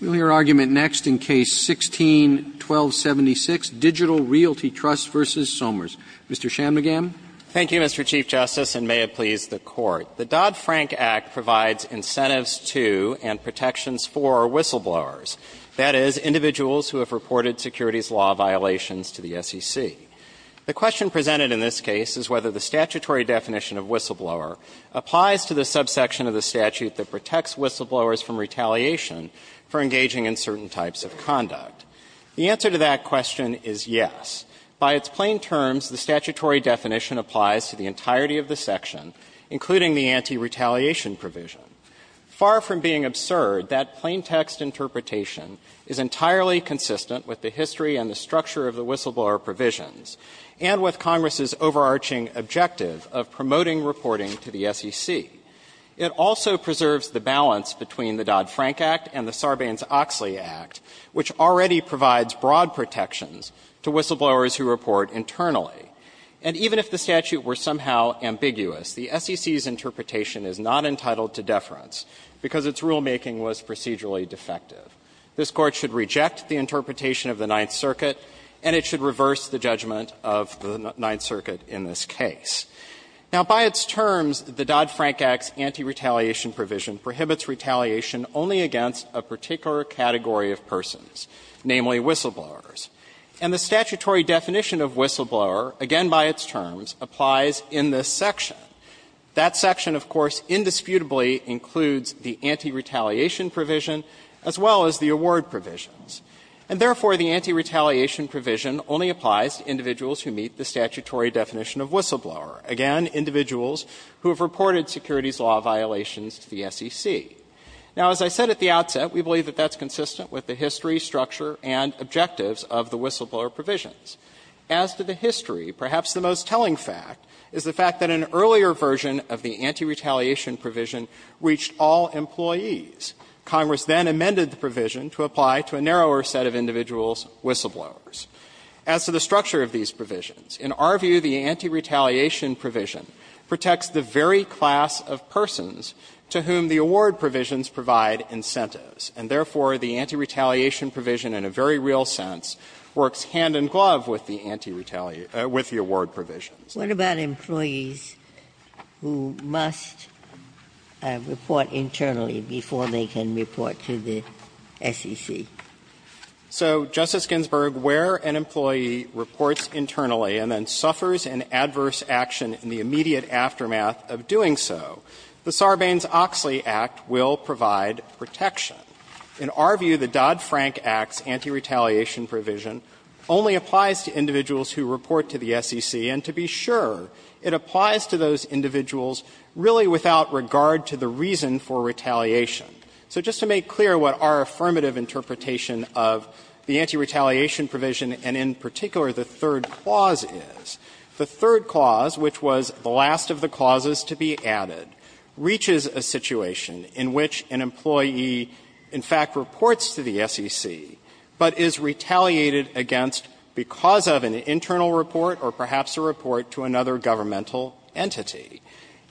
We'll hear argument next in Case 16-1276, Digital Realty Trust v. Somers. Mr. Chamnagam. Thank you, Mr. Chief Justice, and may it please the Court. The Dodd-Frank Act provides incentives to and protections for whistleblowers, that is, individuals who have reported securities law violations to the SEC. The question presented in this case is whether the statutory definition of whistleblower applies to the subsection of the statute that protects whistleblowers from retaliation for engaging in certain types of conduct. The answer to that question is yes. By its plain terms, the statutory definition applies to the entirety of the section, including the anti-retaliation provision. Far from being absurd, that plain-text interpretation is entirely consistent with the history and the structure of the whistleblower provisions, and with Congress's overarching objective of promoting reporting to the SEC. It also preserves the balance between the Dodd-Frank Act and the Sarbanes-Oxley Act, which already provides broad protections to whistleblowers who report internally. And even if the statute were somehow ambiguous, the SEC's interpretation is not entitled to deference because its rulemaking was procedurally defective. This Court should reject the interpretation of the Ninth Circuit, and it should reverse the judgment of the Ninth Circuit in this case. Now, by its terms, the Dodd-Frank Act's anti-retaliation provision prohibits retaliation only against a particular category of persons, namely whistleblowers. And the statutory definition of whistleblower, again by its terms, applies in this section. That section, of course, indisputably includes the anti-retaliation provision as well as the award provisions. And therefore, the anti-retaliation provision only applies to individuals who meet the statutory definition of whistleblower, again, individuals who have reported securities law violations to the SEC. Now, as I said at the outset, we believe that that's consistent with the history, structure, and objectives of the whistleblower provisions. As to the history, perhaps the most telling fact is the fact that an earlier version of the anti-retaliation provision reached all employees. Congress then amended the provision to apply to a narrower set of individuals, whistleblowers. As to the structure of these provisions, in our view, the anti-retaliation provision protects the very class of persons to whom the award provisions provide incentives. And therefore, the anti-retaliation provision, in a very real sense, works hand-in-glove with the anti-retaliation, with the award provisions. Ginsburg. What about employees who must report internally before they can report to the SEC? So, Justice Ginsburg, where an employee reports internally and then suffers an adverse action in the immediate aftermath of doing so, the Sarbanes-Oxley Act will provide protection. In our view, the Dodd-Frank Act's anti-retaliation provision only applies to individuals who report to the SEC, and to be sure, it applies to those individuals really without regard to the reason for retaliation. So just to make clear what our affirmative interpretation of the anti-retaliation provision, and in particular the third clause is, the third clause, which was the last of the clauses to be added, reaches a situation in which an employee in fact reports to the SEC, but is retaliated against because of an internal report or perhaps a report to another governmental entity,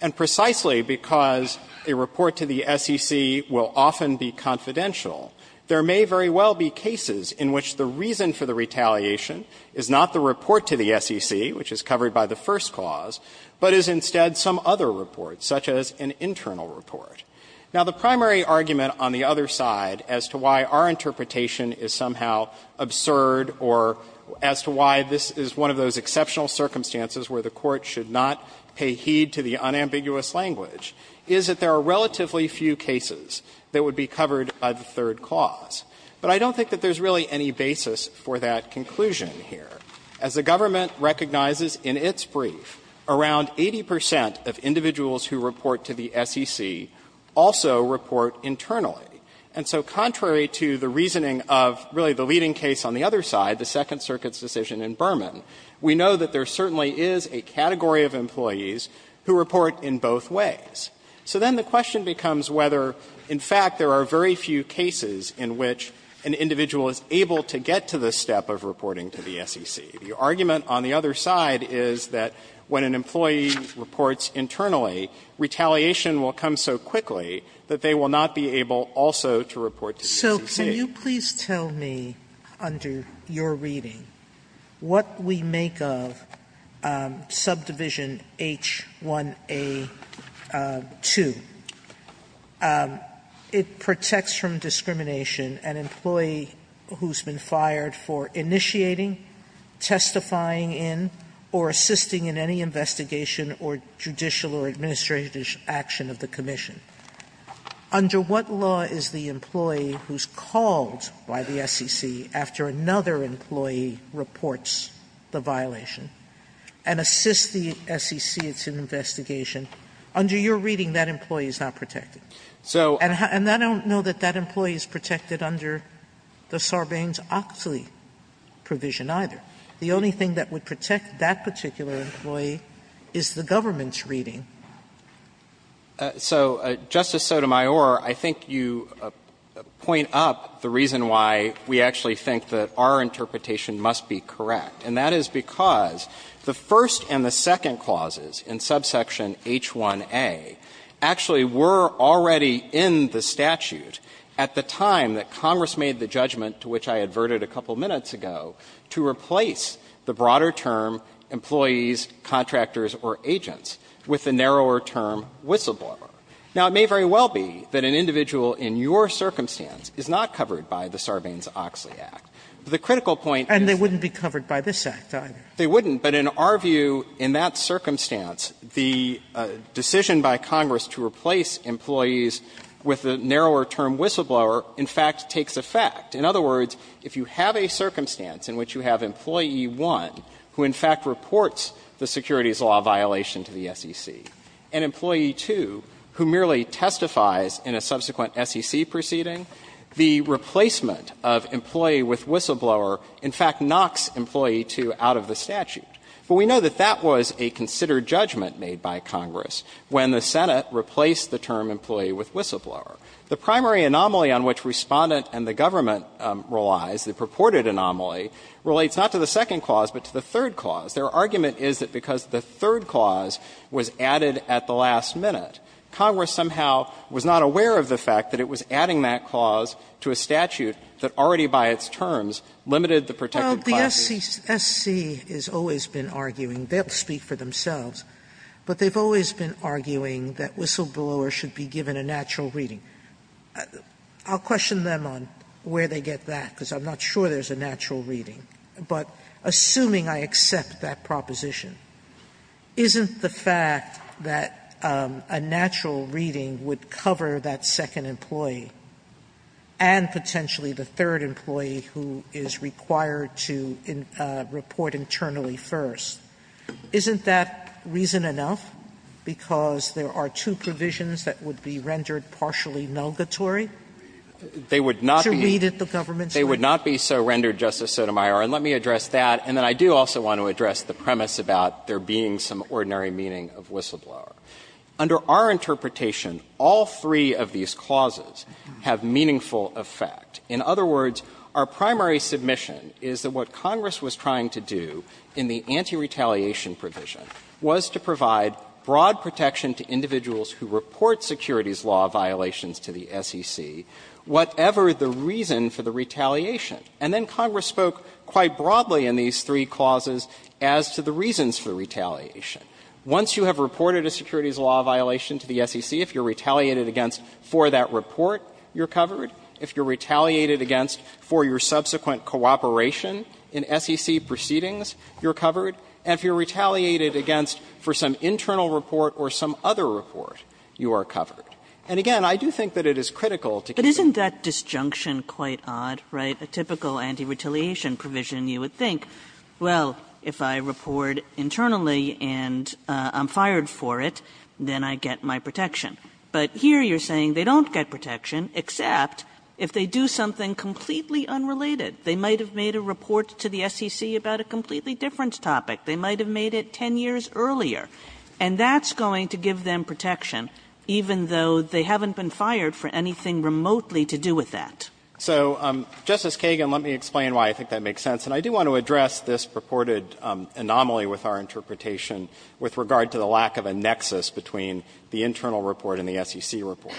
and precisely because a report to the SEC will often be confidential, there may very well be cases in which the reason for the retaliation is not the report to the SEC, which is covered by the first clause, but is instead some other report, such as an internal report. Now, the primary argument on the other side as to why our interpretation is somehow absurd or as to why this is one of those exceptional circumstances where the Court should not pay heed to the unambiguous language is that there are cases that would be covered by the third clause. But I don't think that there's really any basis for that conclusion here. As the government recognizes in its brief, around 80 percent of individuals who report to the SEC also report internally. And so contrary to the reasoning of really the leading case on the other side, the Second Circuit's decision in Berman, we know that there certainly is a category of employees who report in both ways. So then the question becomes whether, in fact, there are very few cases in which an individual is able to get to the step of reporting to the SEC. The argument on the other side is that when an employee reports internally, retaliation will come so quickly that they will not be able also to report to the SEC. Sotomayor Crist, can you please tell me, under your reading, what we make of subdivision H1a2? It protects from discrimination an employee who's been fired for initiating, testifying in, or assisting in any investigation, or judicial or administrative action of the commission. Under what law is the employee who's called by the SEC after another employee reports the violation and assists the SEC in its investigation? Under your reading, that employee is not protected. And I don't know that that employee is protected under the Sarbanes-Oxley provision either. The only thing that would protect that particular employee is the government's reading. So, Justice Sotomayor, I think you point up the reason why we actually think that our interpretation must be correct, and that is because the first and the second clauses in subsection H1a actually were already in the statute at the time that Congress made the judgment, to which I adverted a couple minutes ago, to replace the broader term, employees, contractors, or agents, with the narrower term, whistleblower. Now, it may very well be that an individual in your circumstance is not covered by the Sarbanes-Oxley Act. But the critical point is that they wouldn't be covered by this Act either. They wouldn't, but in our view, in that circumstance, the decision by Congress to replace employees with the narrower term, whistleblower, in fact, takes effect. In other words, if you have a circumstance in which you have Employee 1, who, in fact, reports the securities law violation to the SEC, and Employee 2, who merely testifies in a subsequent SEC proceeding, the replacement of employee with whistleblower in fact knocks Employee 2 out of the statute. But we know that that was a considered judgment made by Congress when the Senate replaced the term employee with whistleblower. The primary anomaly on which Respondent and the government relies, the purported anomaly, relates not to the second clause, but to the third clause. Their argument is that because the third clause was added at the last minute, Congress somehow was not aware of the fact that it was adding that clause to a statute that already by its terms limited the protected privacy. Sotomayor, S.C. has always been arguing, they'll speak for themselves, but they've always been arguing that whistleblowers should be given a natural reading. I'll question them on where they get that, because I'm not sure there's a natural reading. But assuming I accept that proposition, isn't the fact that a natural reading would cover that second employee and potentially the third employee who is required to report internally first, isn't that reason enough? Because there are two provisions that would be rendered partially nulgatory to read at the government's level? They would not be so rendered, Justice Sotomayor, and let me address that, and then I do also want to address the premise about there being some ordinary meaning of whistleblower. Under our interpretation, all three of these clauses have meaningful effect. In other words, our primary submission is that what Congress was trying to do in the anti-retaliation provision was to provide broad protection to individuals who report securities law violations to the SEC, whatever the reason for the retaliation. And then Congress spoke quite broadly in these three clauses as to the reasons for retaliation. Once you have reported a securities law violation to the SEC, if you're retaliated against for that report, you're covered. If you're retaliated against for your subsequent cooperation in SEC proceedings, you're covered. And if you're retaliated against for some internal report or some other report, you are covered. And again, I do think that it is critical to keep in mind that there is a broad protection. Kagan. But isn't that disjunction quite odd, right, a typical anti-retaliation provision, you would think, well, if I report internally and I'm fired for it, then I get my protection. But here you're saying they don't get protection, except if they do something completely unrelated. They might have made a report to the SEC about a completely different topic. They might have made it 10 years earlier. And that's going to give them protection, even though they haven't been fired for anything remotely to do with that. So, Justice Kagan, let me explain why I think that makes sense. And I do want to address this purported anomaly with our interpretation with regard to the lack of a nexus between the internal report and the SEC report.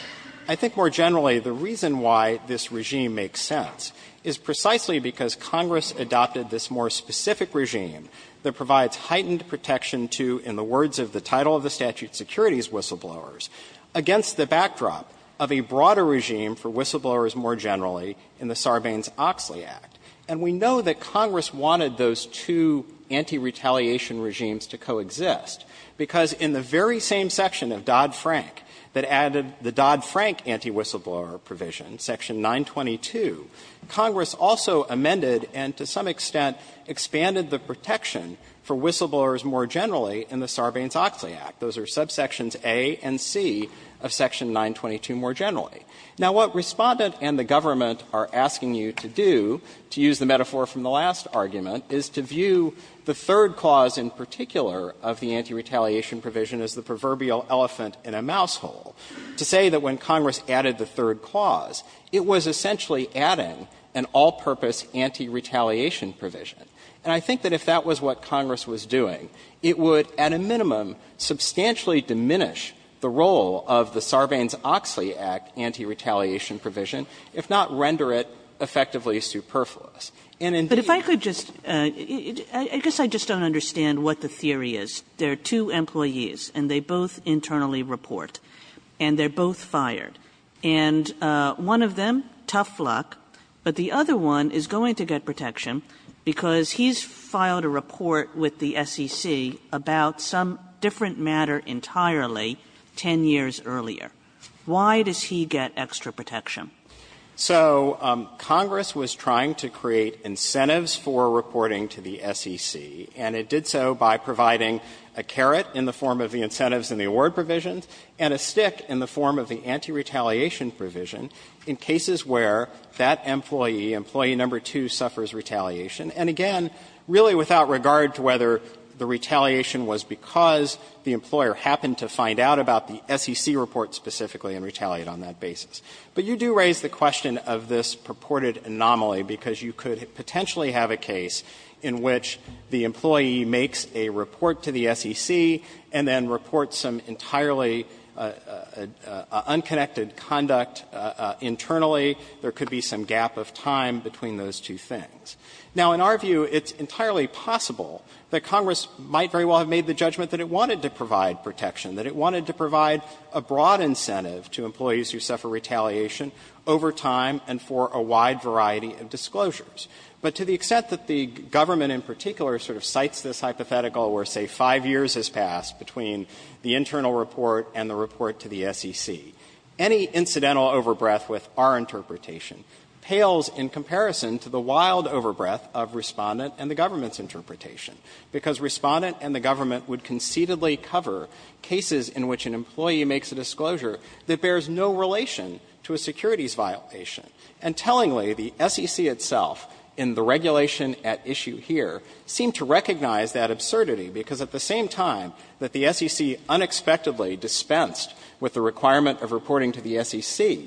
I think more generally, the reason why this regime makes sense is precisely because Congress adopted this more specific regime that provides heightened protection to, in the words of the title of the statute, securities whistleblowers against the backdrop of a broader regime for whistleblowers more generally in the Sarbanes-Oxley Act. And we know that Congress wanted those two anti-retaliation regimes to coexist, because in the very same section of Dodd-Frank that added the Dodd-Frank anti-whistleblower provision, Section 922, Congress also amended and to some extent expanded the protection for whistleblowers more generally in the Sarbanes-Oxley Act. Those are subsections A and C of Section 922 more generally. Now, what Respondent and the government are asking you to do, to use the metaphor from the last argument, is to view the third clause in particular of the anti-retaliation provision as the proverbial elephant in a mouse hole, to say that when Congress added the third clause, it was essentially adding an all-purpose anti-retaliation provision. And I think that if that was what Congress was doing, it would at a minimum substantially diminish the role of the Sarbanes-Oxley Act anti-retaliation provision, if not render it effectively superfluous. And indeed, there are other things that Congress is trying to do, and I'm not going to go into that. But if I could just, I guess I just don't understand what the theory is. There are two employees, and they both internally report, and they're both fired. And one of them, tough luck, but the other one is going to get protection because he's filed a report with the SEC about some different matter entirely 10 years earlier. Why does he get extra protection? So Congress was trying to create incentives for reporting to the SEC, and it did so by providing a carrot in the form of the incentives in the award provisions and a stick in the form of the anti-retaliation provision in cases where that employee, employee number two, suffers retaliation. And again, really without regard to whether the retaliation was because the employer happened to find out about the SEC report specifically and retaliate on that basis. But you do raise the question of this purported anomaly, because you could potentially have a case in which the employee makes a report to the SEC and then reports some entirely unconnected conduct internally. There could be some gap of time between those two things. Now, in our view, it's entirely possible that Congress might very well have made the judgment that it wanted to provide protection, that it wanted to provide a broad incentive to employees who suffer retaliation over time and for a wide variety of disclosures. But to the extent that the government in particular sort of cites this hypothetical where, say, 5 years has passed between the internal report and the report to the SEC, any incidental overbreath with our interpretation pales in comparison to the wild overbreath of Respondent and the government's interpretation, because Respondent and the government would concededly cover cases in which an employee makes a disclosure that bears no relation to a securities violation. And tellingly, the SEC itself in the regulation at issue here seemed to recognize that absurdity, because at the same time that the SEC unexpectedly dispensed with the requirement of reporting to the SEC,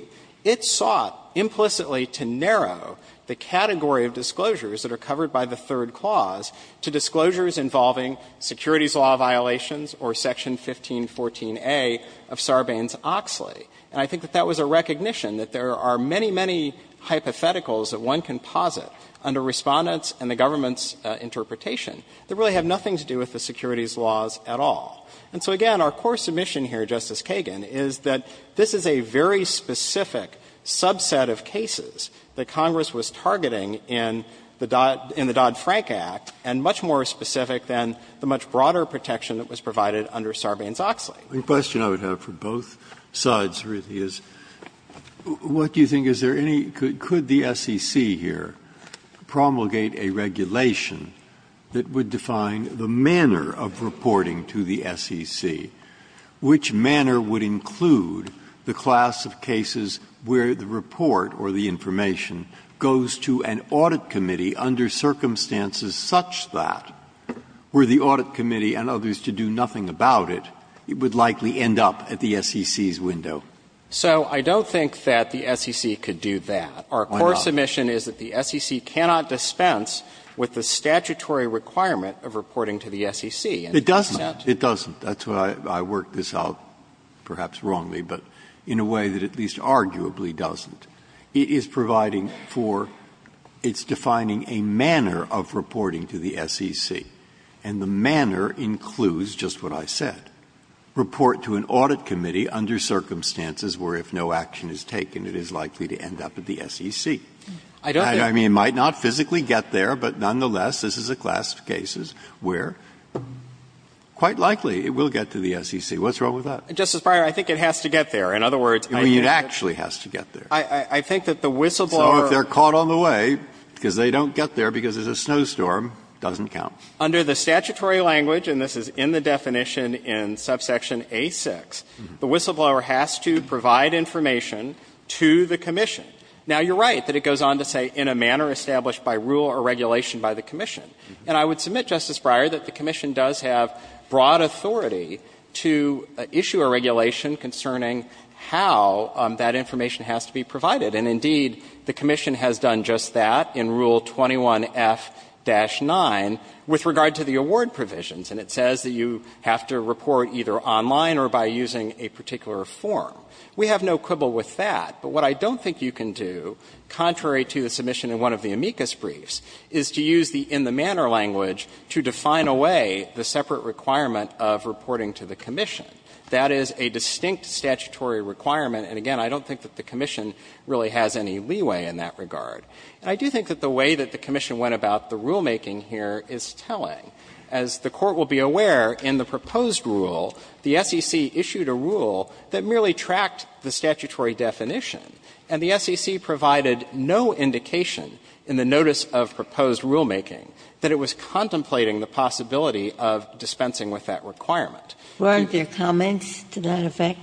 it sought implicitly to narrow the category of disclosures that are covered by the third clause to disclosures involving securities law violations or Section 1514a of Sarbanes-Oxley. And I think that that was a recognition that there are many, many hypotheticals that one can posit under Respondent's and the government's interpretation that really have nothing to do with the securities laws at all. And so, again, our core submission here, Justice Kagan, is that this is a very specific subset of cases that Congress was targeting in the Dodd-Frank Act, and much more specific than the much broader protection that was provided under Sarbanes-Oxley. Breyer. The question I would have for both sides, really, is what do you think? Is there any – could the SEC here promulgate a regulation that would define the manner of reporting to the SEC? Which manner would include the class of cases where the report or the information goes to an audit committee under circumstances such that were the audit committee and others to do nothing about it, it would likely end up at the SEC's window? So I don't think that the SEC could do that. Why not? Our core submission is that the SEC cannot dispense with the statutory requirement of reporting to the SEC. It doesn't. It doesn't. That's why I worked this out, perhaps wrongly, but in a way that at least arguably doesn't. It is providing for – it's defining a manner of reporting to the SEC, and the manner includes just what I said. Report to an audit committee under circumstances where if no action is taken, it is likely to end up at the SEC. I mean, it might not physically get there, but nonetheless, this is a class of cases where quite likely it will get to the SEC. What's wrong with that? I mean, it actually has to get there. I think that the whistleblower – So if they're caught on the way because they don't get there because it's a snowstorm, it doesn't count. Under the statutory language, and this is in the definition in subsection A-6, the whistleblower has to provide information to the commission. Now, you're right that it goes on to say, in a manner established by rule or regulation by the commission. And I would submit, Justice Breyer, that the commission does have broad authority to issue a regulation concerning how that information has to be provided. And indeed, the commission has done just that in Rule 21F-9 with regard to the award provisions. And it says that you have to report either online or by using a particular form. We have no quibble with that. But what I don't think you can do, contrary to the submission in one of the amicus briefs, is to use the in-the-manner language to define away the separate requirement of reporting to the commission. That is a distinct statutory requirement, and again, I don't think that the commission really has any leeway in that regard. And I do think that the way that the commission went about the rulemaking here is telling. As the Court will be aware, in the proposed rule, the SEC issued a rule that merely tracked the statutory definition, and the SEC provided no indication in the notice of proposed rulemaking that it was contemplating the possibility of dispensing with that requirement. Ginsburg. Weren't there comments to that effect?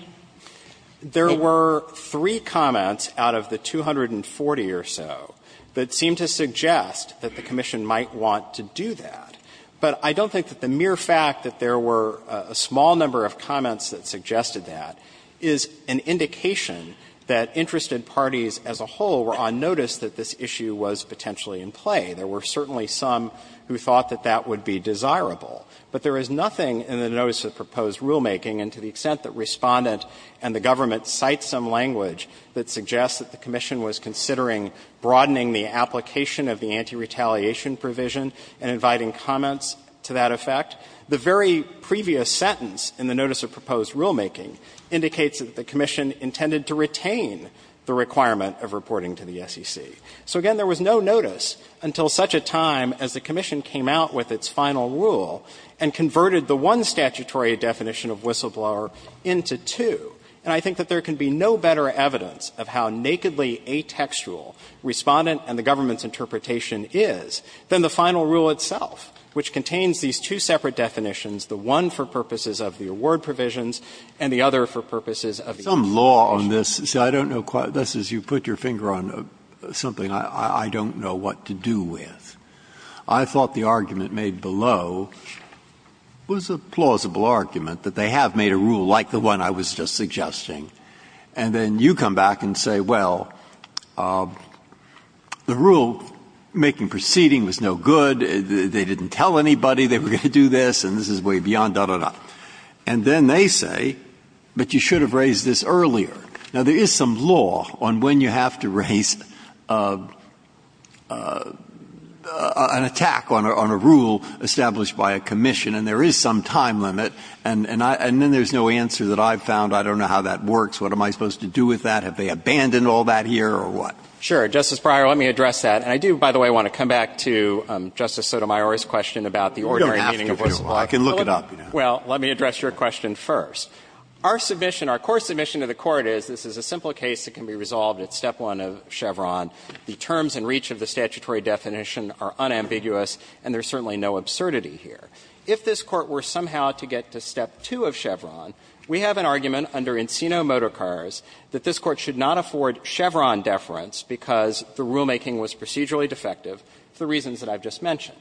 There were three comments out of the 240 or so that seemed to suggest that the commission might want to do that. But I don't think that the mere fact that there were a small number of comments that suggested that is an indication that interested parties as a whole were on notice that this issue was potentially in play. There were certainly some who thought that that would be desirable. But there is nothing in the notice of proposed rulemaking, and to the extent that Respondent and the government cite some language that suggests that the commission was considering broadening the application of the anti-retaliation provision and inviting comments to that effect, the very previous sentence in the notice of proposed rulemaking indicates that the commission intended to retain the requirement of reporting to the SEC. So again, there was no notice until such a time as the commission came out with its final rule and converted the one statutory definition of whistleblower into two. And I think that there can be no better evidence of how nakedly atextual Respondent and the government's interpretation is than the final rule itself, which contains these two separate definitions, the one for purposes of the award provisions and the other for purposes of the anti-retaliation provision. Some law on this, I don't know, Justice, you put your finger on something I don't know what to do with. I thought the argument made below was a plausible argument that they have made a rule like the one I was just suggesting. And then you come back and say, well, the rulemaking proceeding was no good, they didn't tell anybody they were going to do this, and this is way beyond da, da, da. And then they say, but you should have raised this earlier. Now, there is some law on when you have to raise an attack on a rule established by a commission, and there is some time limit. And then there's no answer that I've found. I don't know how that works. What am I supposed to do with that? Have they abandoned all that here or what? Sure. Justice Breyer, let me address that. And I do, by the way, want to come back to Justice Sotomayor's question about the ordinary meaning of whistleblower. You don't have to do that. Well, let me address your question first. Our submission, our core submission to the Court is this is a simple case that can be resolved at step one of Chevron. The terms and reach of the statutory definition are unambiguous, and there's certainly no absurdity here. If this Court were somehow to get to step two of Chevron, we have an argument under Encino Motorcars that this Court should not afford Chevron deference because the rulemaking was procedurally defective for the reasons that I've just mentioned.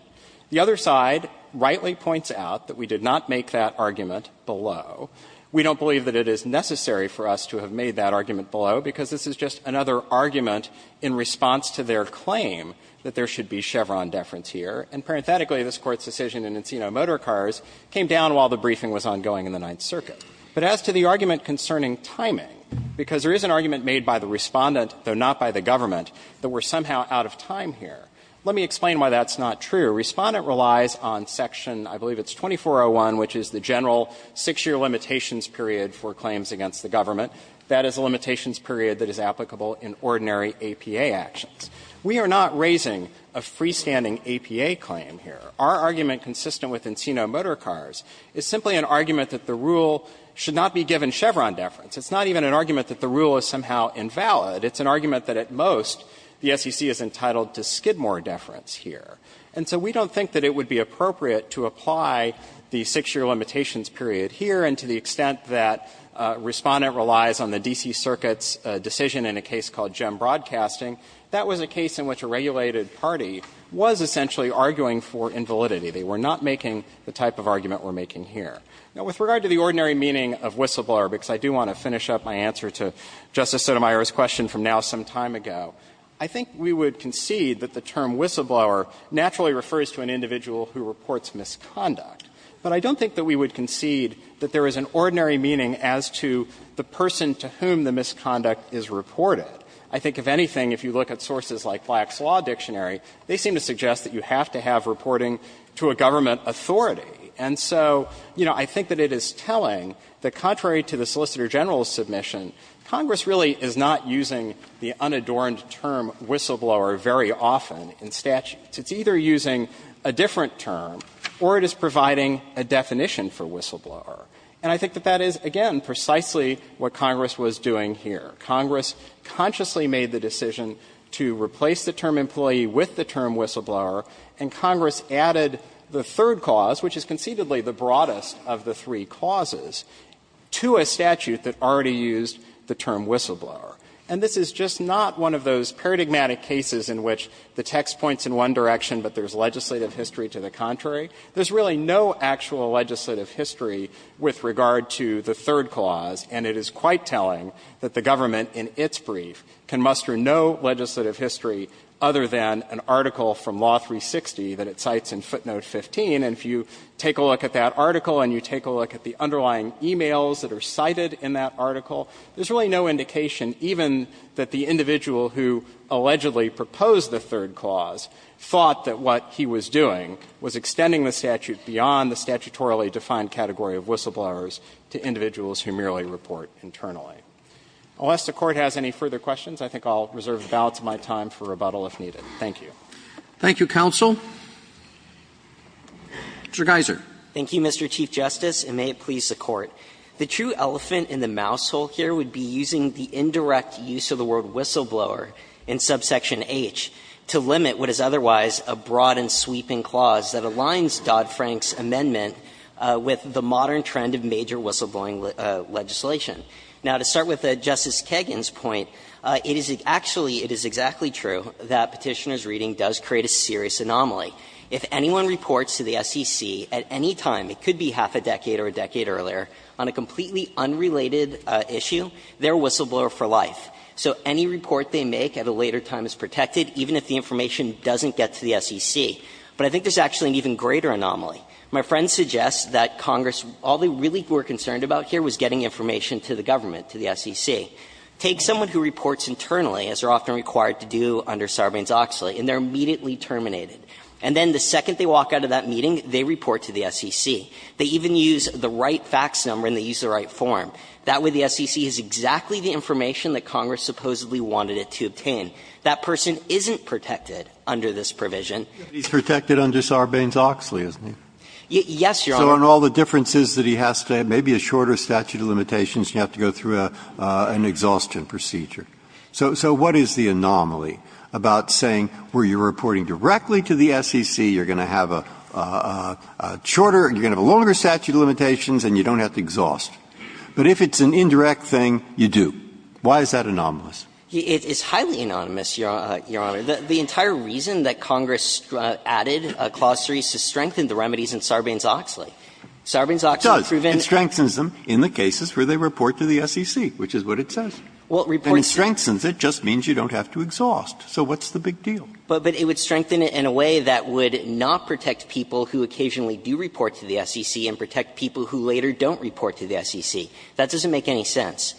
The other side rightly points out that we did not make that argument below. We don't believe that it is necessary for us to have made that argument below, because this is just another argument in response to their claim that there should be Chevron deference here. And parenthetically, this Court's decision in Encino Motorcars came down while the briefing was ongoing in the Ninth Circuit. But as to the argument concerning timing, because there is an argument made by the Respondent, though not by the government, that we're somehow out of time here. Let me explain why that's not true. Respondent relies on section, I believe it's 2401, which is the general 6-year limitations period for claims against the government. That is a limitations period that is applicable in ordinary APA actions. We are not raising a freestanding APA claim here. Our argument consistent with Encino Motorcars is simply an argument that the rule should not be given Chevron deference. It's not even an argument that the rule is somehow invalid. It's an argument that at most the SEC is entitled to Skidmore deference here. And so we don't think that it would be appropriate to apply the 6-year limitations period here, and to the extent that Respondent relies on the D.C. Circuit's decision in a case called JEM Broadcasting, that was a case in which a regulated party was essentially arguing for invalidity. They were not making the type of argument we're making here. Now, with regard to the ordinary meaning of whistleblower, because I do want to finish up my answer to Justice Sotomayor's question from now some time ago, I think we would concede that the term whistleblower naturally refers to an individual who reports misconduct. But I don't think that we would concede that there is an ordinary meaning as to the person to whom the misconduct is reported. I think, if anything, if you look at sources like Black's Law Dictionary, they seem to suggest that you have to have reporting to a government authority. And so, you know, I think that it is telling that, contrary to the Solicitor General's submission, Congress really is not using the unadorned term whistleblower very often in statutes. It's either using a different term or it is providing a definition for whistleblower. And I think that that is, again, precisely what Congress was doing here. Congress consciously made the decision to replace the term employee with the term whistleblower, and Congress added the third cause, which is conceivably the broadest of the three causes, to a statute that already used the term whistleblower. And this is just not one of those paradigmatic cases in which the text points in one direction, but there is legislative history to the contrary. There is really no actual legislative history with regard to the third clause, and it is quite telling that the government in its brief can muster no legislative history other than an article from Law 360 that it cites in footnote 15. And if you take a look at that article and you take a look at the underlying e-mails that are cited in that article, there is really no indication even that the individual who allegedly proposed the third clause thought that what he was doing was extending the statute beyond the statutorily defined category of whistleblowers to individuals who merely report internally. Unless the Court has any further questions, I think I will reserve the balance of my time for rebuttal if needed. Thank you. Roberts. Thank you, counsel. Mr. Geiser. Geiser. Thank you, Mr. Chief Justice, and may it please the Court. The true elephant in the mouse hole here would be using the indirect use of the word whistleblower in subsection H to limit what is otherwise a broad and sweeping clause that aligns Dodd-Frank's amendment with the modern trend of major whistleblowing legislation. Now, to start with Justice Kagan's point, it is actually, it is exactly true that Petitioner's reading does create a serious anomaly. If anyone reports to the SEC at any time, it could be half a decade or a decade earlier, on a completely unrelated issue, they are a whistleblower for life. So any report they make at a later time is protected, even if the information doesn't get to the SEC. But I think there is actually an even greater anomaly. My friend suggests that Congress, all they really were concerned about here was getting information to the government, to the SEC. Take someone who reports internally, as they are often required to do under Sarbanes-Oxley, and they are immediately terminated. And then the second they walk out of that meeting, they report to the SEC. They even use the right fax number and they use the right form. That way, the SEC has exactly the information that Congress supposedly wanted it to obtain. That person isn't protected under this provision. Breyer. He's protected under Sarbanes-Oxley, isn't he? Yes, Your Honor. So on all the differences that he has today, maybe a shorter statute of limitations, you have to go through an exhaustion procedure. So what is the anomaly about saying where you are reporting directly to the SEC, you are going to have a shorter, you are going to have a longer statute of limitations, and you don't have to exhaust? But if it's an indirect thing, you do. Why is that anomalous? It's highly anonymous, Your Honor. The entire reason that Congress added Clause 3 is to strengthen the remedies in Sarbanes-Oxley. Sarbanes-Oxley proved in the cases where they report to the SEC, which is what it says. And it strengthens it, it just means you don't have to exhaust. So what's the big deal? But it would strengthen it in a way that would not protect people who occasionally do report to the SEC and protect people who later don't report to the SEC. That doesn't make any sense.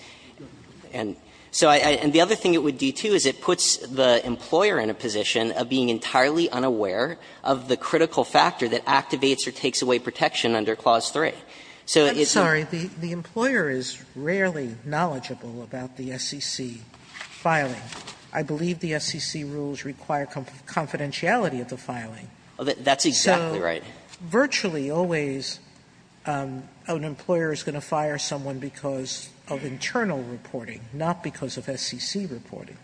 And so I – and the other thing it would do, too, is it puts the employer in a position of being entirely unaware of the critical factor that activates or takes away protection under Clause 3. So it's a – Sotomayor, I'm sorry, the employer is rarely knowledgeable about the SEC filing. I believe the SEC rules require confidentiality of the filing. That's exactly right. So virtually always an employer is going to fire someone because of internal reporting, not because of SEC reporting.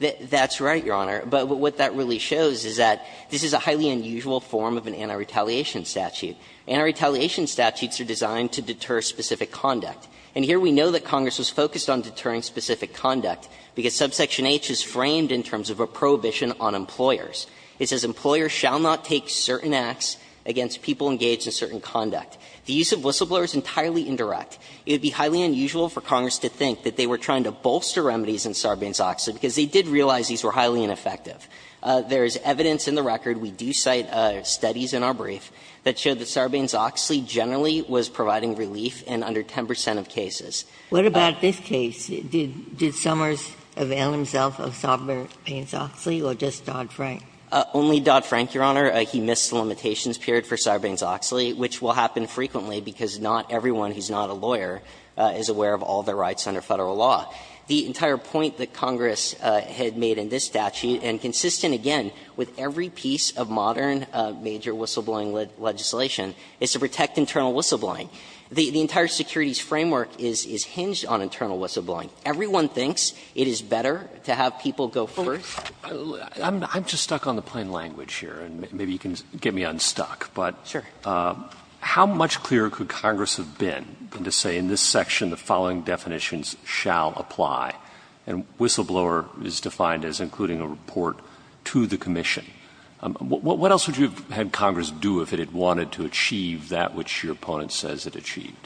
That's right, Your Honor. But what that really shows is that this is a highly unusual form of an anti-retaliation statute. Anti-retaliation statutes are designed to deter specific conduct. And here we know that Congress was focused on deterring specific conduct because subsection H is framed in terms of a prohibition on employers. It says, employer shall not take certain acts against people engaged in certain conduct. The use of whistleblower is entirely indirect. It would be highly unusual for Congress to think that they were trying to bolster remedies in Sarbanes-Oxley, because they did realize these were highly ineffective. There is evidence in the record, we do cite studies in our brief, that show that Sarbanes-Oxley generally was providing relief in under 10 percent of cases. What about this case? Did Summers avail himself of Sarbanes-Oxley or just Dodd-Frank? Only Dodd-Frank, Your Honor. He missed the limitations period for Sarbanes-Oxley, which will happen frequently because not everyone who's not a lawyer is aware of all the rights under Federal law. The entire point that Congress had made in this statute, and consistent again with every piece of modern major whistleblowing legislation, is to protect internal whistleblowing. The entire securities framework is hinged on internal whistleblowing. Everyone thinks it is better to have people go first. I'm just stuck on the plain language here, and maybe you can get me unstuck. But how much clearer could Congress have been than to say in this section the following definitions shall apply, and whistleblower is defined as including a report to the commission? What else would you have had Congress do if it had wanted to achieve that which your opponent says it achieved?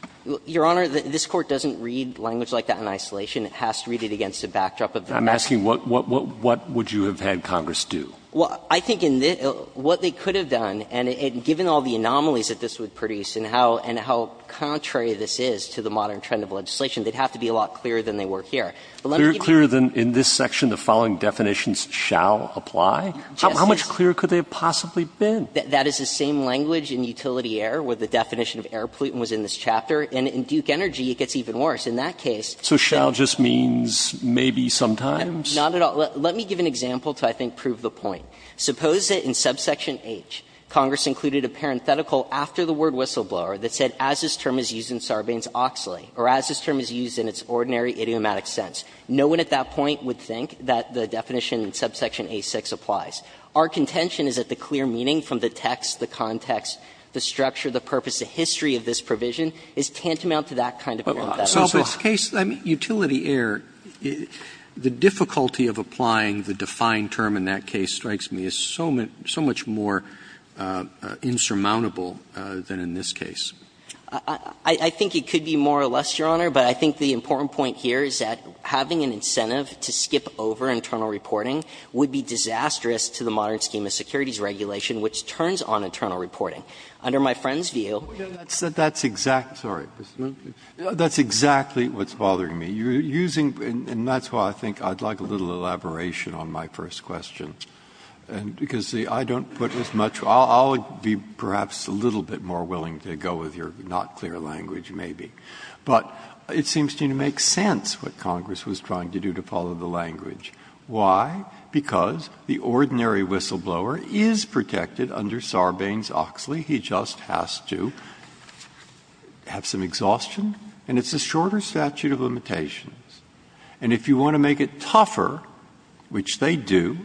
Your Honor, this Court doesn't read language like that in isolation. It has to read it against a backdrop of the rest. I'm asking what would you have had Congress do? Well, I think in this what they could have done, and given all the anomalies that this would produce and how contrary this is to the modern trend of legislation, they'd have to be a lot clearer than they were here. Clearer than in this section the following definitions shall apply? How much clearer could they have possibly been? That is the same language in utility air where the definition of air pollutant was in this chapter, and in Duke Energy it gets even worse. In that case, shall just means maybe sometimes? Not at all. Let me give an example to, I think, prove the point. Suppose that in subsection H Congress included a parenthetical after the word whistleblower that said as this term is used in Sarbanes-Oxley or as this term is used in its ordinary idiomatic sense. No one at that point would think that the definition in subsection A-6 applies. Our contention is that the clear meaning from the text, the context, the structure, the purpose, the history of this provision is tantamount to that kind of error. So in this case, utility air, the difficulty of applying the defined term in that case strikes me as so much more insurmountable than in this case. I think it could be more or less, Your Honor, but I think the important point here is that having an incentive to skip over internal reporting would be disastrous to the modern scheme of securities regulation, which turns on internal reporting. Under my friend's view, that's exactly what's bothering me. You're using, and that's why I think I'd like a little elaboration on my first question, because I don't put as much, I'll be perhaps a little bit more willing to go with your not clear language maybe. But it seems to me to make sense what Congress was trying to do to follow the language. Why? Because the ordinary whistleblower is protected under Sarbanes-Oxley. He just has to have some exhaustion. And it's a shorter statute of limitations. And if you want to make it tougher, which they do,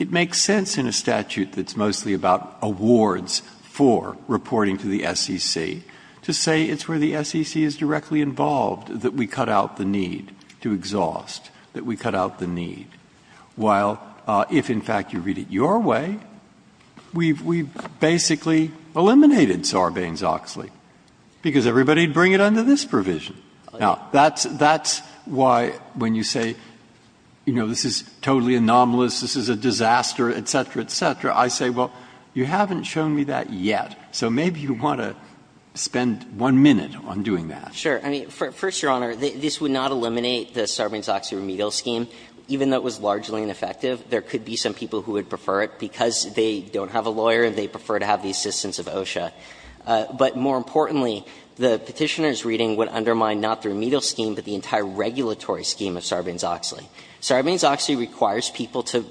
it makes sense in a statute that's mostly about awards for reporting to the SEC to say it's where the SEC is going to be directly involved, that we cut out the need to exhaust, that we cut out the need. While if, in fact, you read it your way, we've basically eliminated Sarbanes-Oxley because everybody would bring it under this provision. Now, that's why when you say, you know, this is totally anomalous, this is a disaster, et cetera, et cetera, I say, well, you haven't shown me that yet. So maybe you want to spend one minute on doing that. Sure. I mean, first, Your Honor, this would not eliminate the Sarbanes-Oxley remedial scheme, even though it was largely ineffective. There could be some people who would prefer it because they don't have a lawyer and they prefer to have the assistance of OSHA. But more importantly, the Petitioner's reading would undermine not the remedial scheme, but the entire regulatory scheme of Sarbanes-Oxley. Sarbanes-Oxley requires people to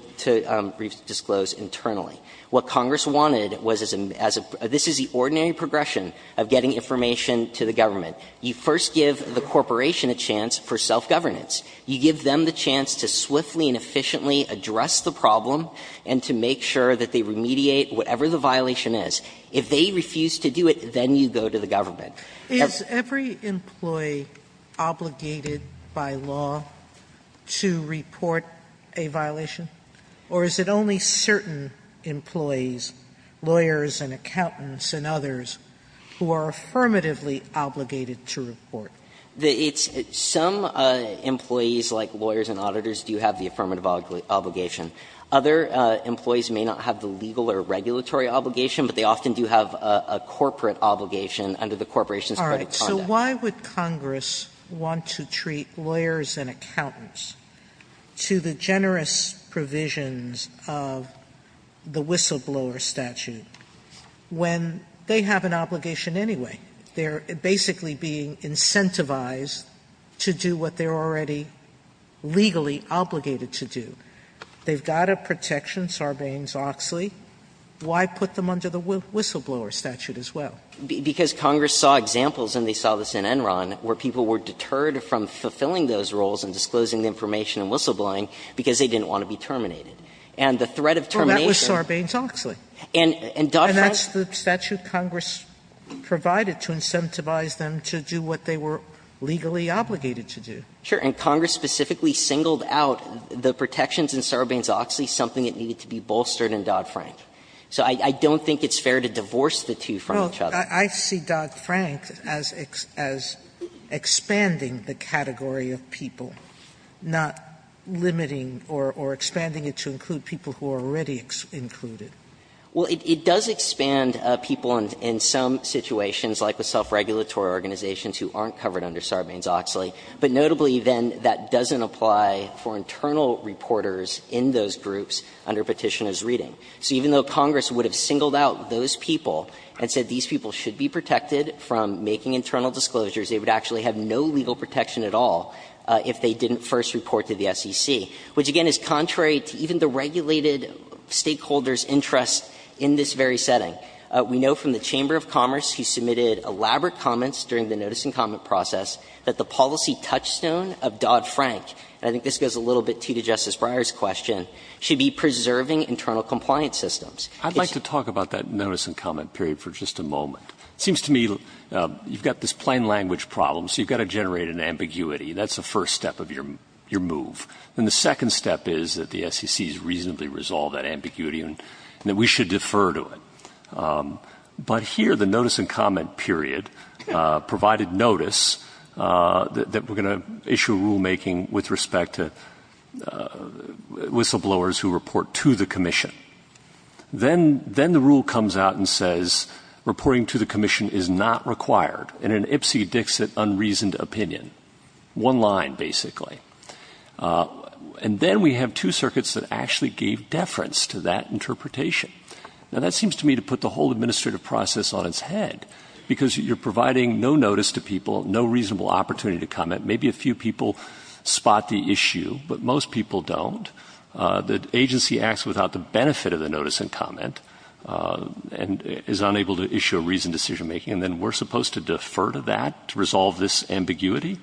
disclose internally. What Congress wanted was as a – this is the ordinary progression of getting information to the government. You first give the corporation a chance for self-governance. You give them the chance to swiftly and efficiently address the problem and to make sure that they remediate whatever the violation is. If they refuse to do it, then you go to the government. Sotomayor, is every employee obligated by law to report a violation, or is it only certain employees, lawyers and accountants and others, who are affirmatively obligated to report? Some employees, like lawyers and auditors, do have the affirmative obligation. Other employees may not have the legal or regulatory obligation, but they often do have a corporate obligation under the corporation's credit conduct. All right. So why would Congress want to treat lawyers and accountants to the generous provisions of the whistleblower statute when they have an obligation anyway? They're basically being incentivized to do what they're already legally obligated to do. They've got a protection, Sarbanes-Oxley. Why put them under the whistleblower statute as well? Because Congress saw examples, and they saw this in Enron, where people were deterred from fulfilling those roles and disclosing the information and whistleblowing because they didn't want to be terminated. And the threat of termination And that was Sarbanes-Oxley. And Dodd-Frank And that's the statute Congress provided to incentivize them to do what they were legally obligated to do. Sure. And Congress specifically singled out the protections in Sarbanes-Oxley, something that needed to be bolstered in Dodd-Frank. So I don't think it's fair to divorce the two from each other. Well, I see Dodd-Frank as expanding the category of people, not limiting or expanding it to include people who are already included. Well, it does expand people in some situations, like with self-regulatory organizations who aren't covered under Sarbanes-Oxley. But notably, then, that doesn't apply for internal reporters in those groups under Petitioner's Reading. So even though Congress would have singled out those people and said these people should be protected from making internal disclosures, they would actually have no legal protection at all if they didn't first report to the SEC, which, again, is contrary to even the regulated stakeholder's interest in this very setting. We know from the Chamber of Commerce, who submitted elaborate comments during the notice-and-comment process, that the policy touchstone of Dodd-Frank, and I think this goes a little bit, too, to Justice Breyer's question, should be preserving internal compliance systems. I'd like to talk about that notice-and-comment period for just a moment. It seems to me you've got this plain language problem, so you've got to generate an ambiguity. That's the first step of your move. And the second step is that the SEC has reasonably resolved that ambiguity and that we should defer to it. But here, the notice-and-comment period provided notice that we're going to issue rulemaking with respect to whistleblowers who report to the Commission. Then the rule comes out and says, reporting to the Commission is not required, in an Ipsy-Dixit unreasoned opinion. One line, basically. And then we have two circuits that actually gave deference to that interpretation. Now, that seems to me to put the whole administrative process on its head, because you're providing no notice to people, no reasonable opportunity to comment. Maybe a few people spot the issue, but most people don't. The agency acts without the benefit of the notice-and-comment and is unable to issue a reasoned decision-making, and then we're supposed to defer to that to resolve this ambiguity?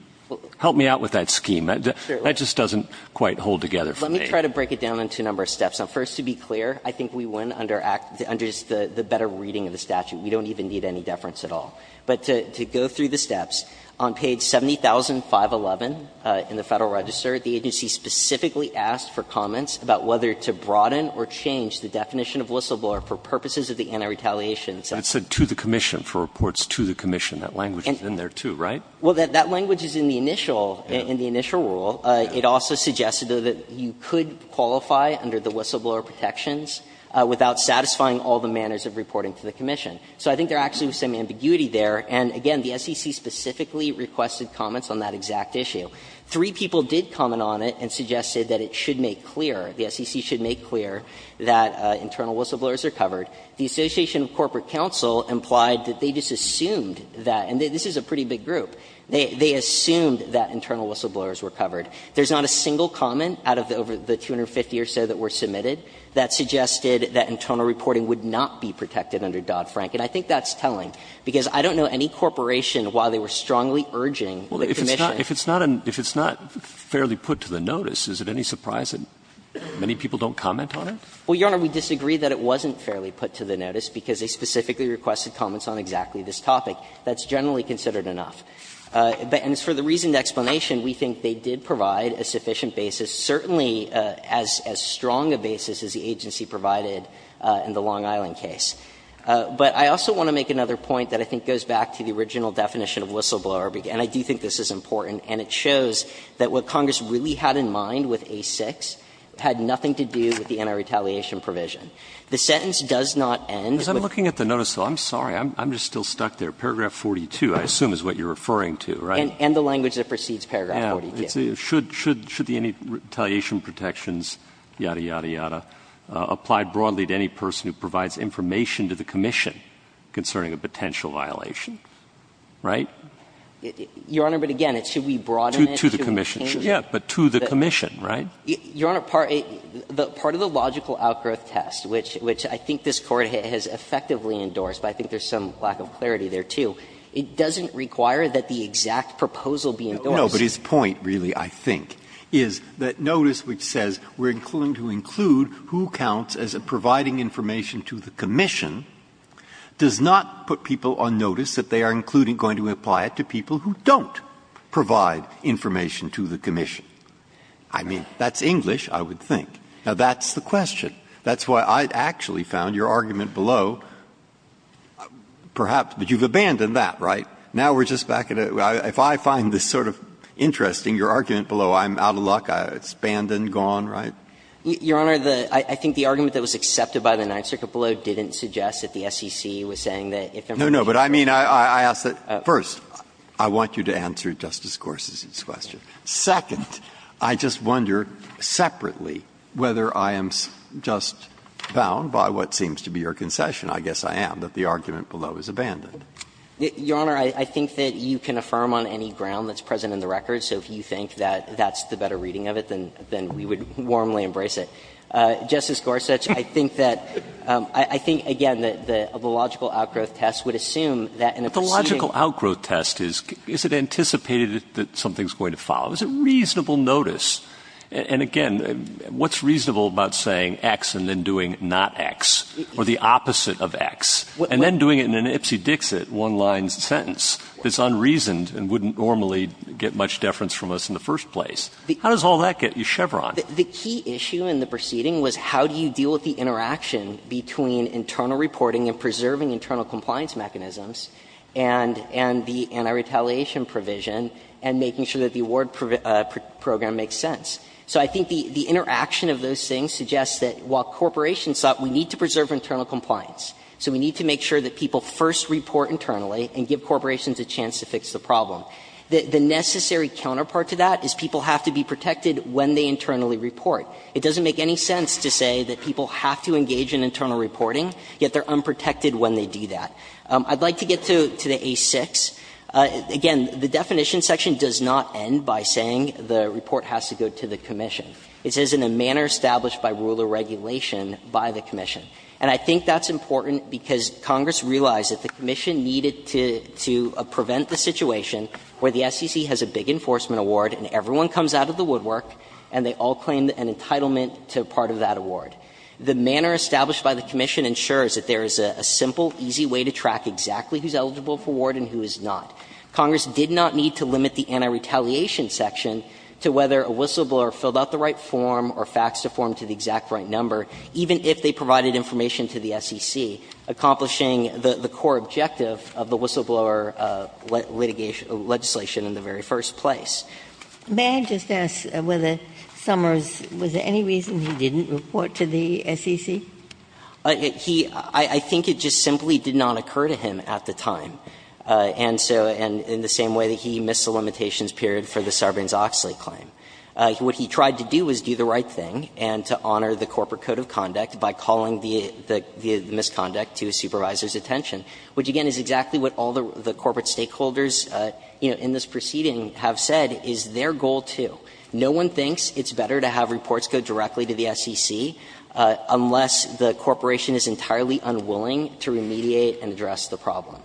Help me out with that scheme. That just doesn't quite hold together for me. Let me try to break it down into a number of steps. First, to be clear, I think we win under the better reading of the statute. We don't even need any deference at all. But to go through the steps, on page 70,511 in the Federal Register, the agency specifically asked for comments about whether to broaden or change the definition of whistleblower for purposes of the anti-retaliation. But it said to the Commission, for reports to the Commission. That language is in there, too, right? Well, that language is in the initial rule. It also suggested that you could qualify under the whistleblower protections without satisfying all the manners of reporting to the Commission. So I think there actually was some ambiguity there. And again, the SEC specifically requested comments on that exact issue. Three people did comment on it and suggested that it should make clear, the SEC should make clear, that internal whistleblowers are covered. The Association of Corporate Counsel implied that they just assumed that, and this is a pretty big group, they assumed that internal whistleblowers were covered. There's not a single comment out of the 250 or so that were submitted that suggested that internal reporting would not be protected under Dodd-Frank. And I think that's telling, because I don't know any corporation, while they were strongly urging the Commission. If it's not fairly put to the notice, is it any surprise that many people don't comment on it? Well, Your Honor, we disagree that it wasn't fairly put to the notice because they specifically requested comments on exactly this topic. That's generally considered enough. And for the reason of explanation, we think they did provide a sufficient basis, certainly as strong a basis as the agency provided in the Long Island case. But I also want to make another point that I think goes back to the original definition of whistleblower, and I do think this is important, and it shows that what Congress really had in mind with A-6 had nothing to do with the anti-retaliation provision. The sentence does not end with the notice of the whistleblower. But it does end with paragraph 42, I assume, is what you're referring to, right? And the language that precedes paragraph 42. Should the anti-retaliation protections, yada, yada, yada, apply broadly to any person who provides information to the Commission concerning a potential violation, right? Your Honor, but again, should we broaden it to the Commission? Yes, but to the Commission, right? Your Honor, part of the logical outgrowth test, which I think this Court has effectively endorsed, but I think there's some lack of clarity there, too, it doesn't require that the exact proposal be endorsed. Breyer. No, but his point, really, I think, is that notice which says we're going to include who counts as providing information to the Commission does not put people on notice that they are including, going to apply it to people who don't provide information to the Commission. I mean, that's English, I would think. Now, that's the question. That's why I actually found your argument below, perhaps, but you've abandoned that, right? Now we're just back at a — if I find this sort of interesting, your argument below, I'm out of luck, it's abandoned, gone, right? Your Honor, the — I think the argument that was accepted by the Ninth Circuit below didn't suggest that the SEC was saying that if everybody— No, no, but I mean, I ask that, first, I want you to answer Justice Gorsuch's question. Second, I just wonder separately whether I am just bound by what seems to be your concession. I guess I am, that the argument below is abandoned. Your Honor, I think that you can affirm on any ground that's present in the record. So if you think that that's the better reading of it, then we would warmly embrace it. Justice Gorsuch, I think that — I think, again, that the logical outgrowth test would assume that in a proceeding— And again, what's reasonable about saying X and then doing not X, or the opposite of X, and then doing it in an Ipsy-Dixit one-line sentence that's unreasoned and wouldn't normally get much deference from us in the first place? How does all that get you Chevron? The key issue in the proceeding was how do you deal with the interaction between internal reporting and preserving internal compliance mechanisms, and the anti-retaliation provision, and making sure that the award program makes sense? So I think the interaction of those things suggests that while corporations thought we need to preserve internal compliance, so we need to make sure that people first report internally and give corporations a chance to fix the problem, the necessary counterpart to that is people have to be protected when they internally report. It doesn't make any sense to say that people have to engage in internal reporting, yet they are unprotected when they do that. I would like to get to the A-6. Again, the definition section does not end by saying the report has to go to the commission. It says in a manner established by rule or regulation by the commission. And I think that's important because Congress realized that the commission needed to prevent the situation where the SEC has a big enforcement award and everyone comes out of the woodwork and they all claim an entitlement to part of that award. The manner established by the commission ensures that there is a simple, easy way to track exactly who is eligible for award and who is not. Congress did not need to limit the anti-retaliation section to whether a whistleblower filled out the right form or faxed a form to the exact right number, even if they provided information to the SEC, accomplishing the core objective of the whistleblower litigation legislation in the very first place. Ginsburg. May I just ask whether Summers, was there any reason he didn't report to the SEC? He – I think it just simply did not occur to him at the time. And so – and in the same way that he missed the limitations period for the Sarbanes-Oxley claim. What he tried to do was do the right thing and to honor the corporate code of conduct by calling the misconduct to a supervisor's attention, which, again, is exactly what all the corporate stakeholders, you know, in this proceeding have said is their goal, too. No one thinks it's better to have reports go directly to the SEC unless the corporation is entirely unwilling to remediate and address the problem.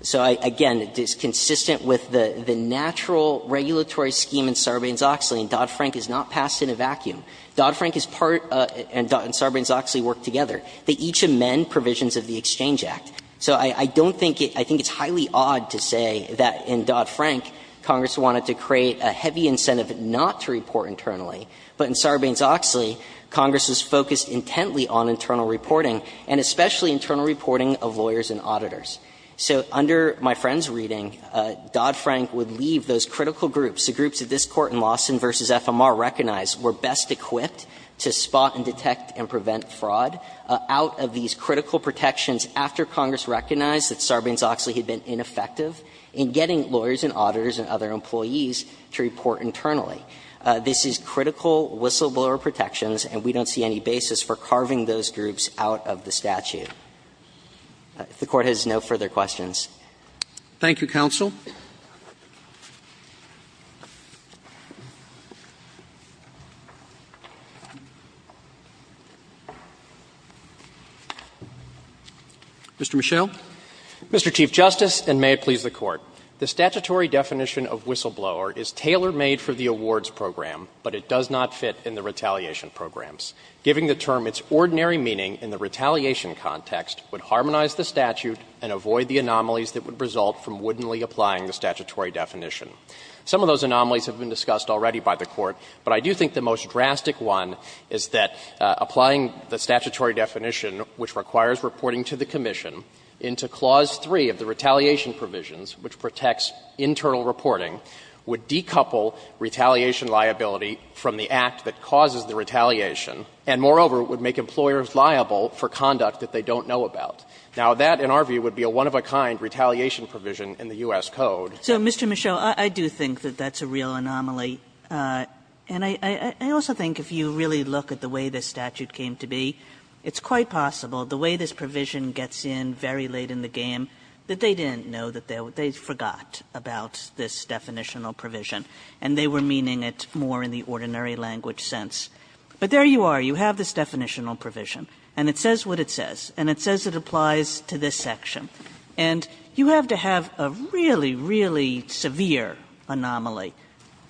So I – again, it's consistent with the natural regulatory scheme in Sarbanes-Oxley, and Dodd-Frank is not passed in a vacuum. Dodd-Frank is part – and Sarbanes-Oxley work together. They each amend provisions of the Exchange Act. So I don't think it – I think it's highly odd to say that in Dodd-Frank, Congress wanted to create a heavy incentive not to report internally, but in Sarbanes-Oxley, Congress was focused intently on internal reporting, and especially internal reporting of lawyers and auditors. So under my friend's reading, Dodd-Frank would leave those critical groups, the groups that this Court in Lawson v. FMR recognized were best equipped to spot and detect and prevent fraud, out of these critical protections after Congress recognized that Sarbanes-Oxley had been ineffective in getting lawyers and auditors and other employees to report internally. This is critical whistleblower protections, and we don't see any basis for carving those groups out of the statute. If the Court has no further questions. Roberts. Thank you, counsel. Mr. Michel. Mr. Chief Justice, and may it please the Court. The statutory definition of whistleblower is tailor-made for the awards program, but it does not fit in the retaliation programs. Giving the term its ordinary meaning in the retaliation context would harmonize the statute and avoid the anomalies that would result from wouldn'tly applying the statutory definition. Some of those anomalies have been discussed already by the Court, but I do think the most drastic one is that applying the statutory definition, which requires reporting to the commission, into Clause 3 of the retaliation provisions, which protects internal reporting, would decouple retaliation liability from the act that causes the retaliation, and moreover, it would make employers liable for conduct that they don't know about. Now, that, in our view, would be a one-of-a-kind retaliation provision in the U.S. Code. So, Mr. Michel, I do think that that's a real anomaly, and I also think if you really look at the way this statute came to be, it's quite possible the way this provision gets in very late in the game, that they didn't know that they forgot about this definitional provision, and they were meaning it more in the ordinary language sense. But there you are, you have this definitional provision, and it says what it says, and it says it applies to this section. And you have to have a really, really severe anomaly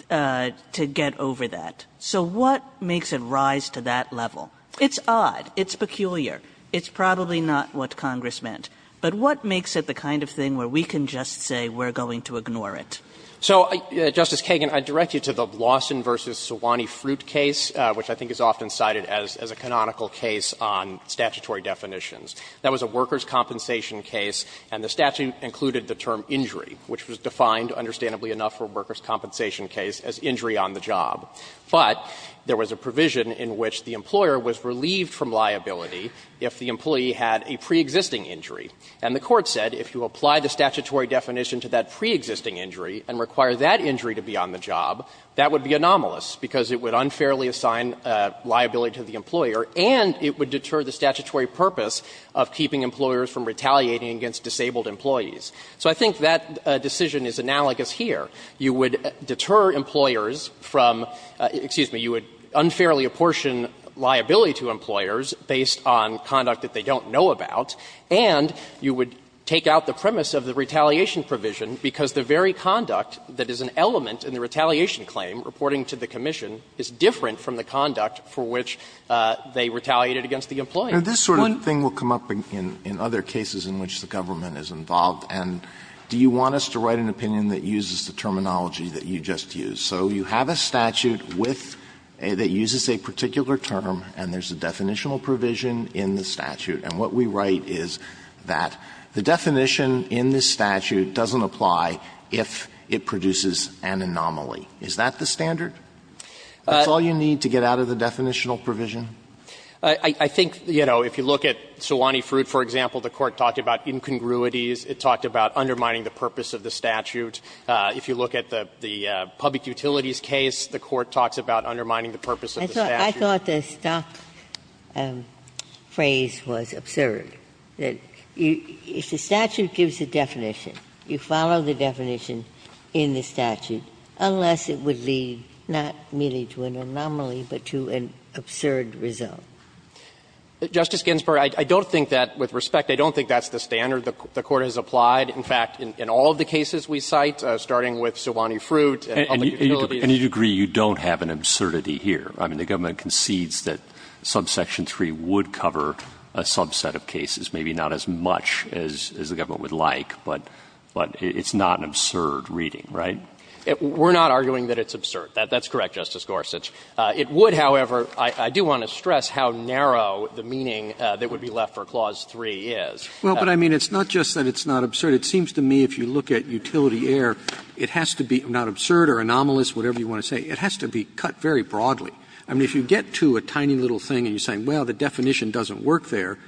to get over that. So what makes it rise to that level? It's odd, it's peculiar. It's probably not what Congress meant. But what makes it the kind of thing where we can just say we're going to ignore it? So, Justice Kagan, I direct you to the Lawson v. Sewanee Fruit case, which I think is often cited as a canonical case on statutory definitions. That was a workers' compensation case, and the statute included the term injury, which was defined, understandably enough, for workers' compensation case as injury on the job. But there was a provision in which the employer was relieved from liability if the employee had a preexisting injury. And the Court said if you apply the statutory definition to that preexisting injury and require that injury to be on the job, that would be anomalous, because it would unfairly assign liability to the employer, and it would deter the statutory purpose of keeping employers from retaliating against disabled employees. So I think that decision is analogous here. You would deter employers from — excuse me, you would unfairly apportion liability to employers based on conduct that they don't know about, and you would take out the premise of the retaliation provision because the very conduct that is an element in the retaliation claim reporting to the commission is different from the conduct for which they retaliated against the employee. Alitoso, this sort of thing will come up in other cases in which the government is involved. And do you want us to write an opinion that uses the terminology that you just used? So you have a statute with — that uses a particular term, and there's a definitional provision in the statute. And what we write is that the definition in this statute doesn't apply if it produces an anomaly. Is that the standard? That's all you need to get out of the definitional provision? I think, you know, if you look at Sewanee Fruit, for example, the Court talked about incongruities. It talked about undermining the purpose of the statute. If you look at the public utilities case, the Court talks about undermining the purpose of the statute. I thought the stock phrase was absurd, that if the statute gives a definition, you follow the definition in the statute, unless it would lead not merely to an anomaly, but to an absurd result. Justice Ginsburg, I don't think that, with respect, I don't think that's the statute. I think that's the standard the Court has applied. In fact, in all of the cases we cite, starting with Sewanee Fruit and public utilities And to any degree, you don't have an absurdity here. I mean, the government concedes that subsection 3 would cover a subset of cases, maybe not as much as the government would like, but it's not an absurd reading, right? We're not arguing that it's absurd. That's correct, Justice Gorsuch. It would, however, I do want to stress how narrow the meaning that would be left for clause 3 is. Well, but I mean, it's not just that it's not absurd. It seems to me, if you look at utility error, it has to be not absurd or anomalous, whatever you want to say. It has to be cut very broadly. I mean, if you get to a tiny little thing and you're saying, well, the definition doesn't work there,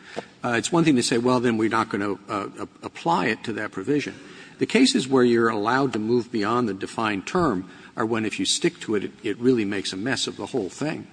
it's one thing to say, well, then we're not going to apply it to that provision. The cases where you're allowed to move beyond the defined term are when, if you stick to it, it really makes a mess of the whole thing.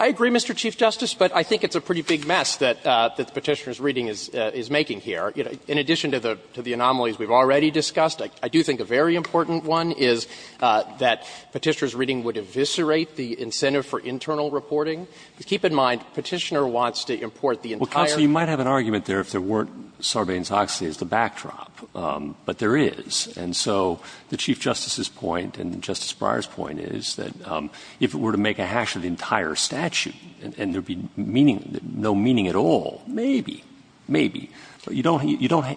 I agree, Mr. Chief Justice, but I think it's a pretty big mess that the Petitioner's reading is making here. In addition to the anomalies we've already discussed, I do think a very important one is that Petitioner's reading would eviscerate the incentive for internal reporting. Keep in mind, Petitioner wants to import the entire region. Well, counsel, you might have an argument there if there weren't Sarbanes-Oxley as the backdrop, but there is. And so the Chief Justice's point and Justice Breyer's point is that if it were to make a hash of the entire statute and there would be meaning, no meaning at all, maybe, maybe. You don't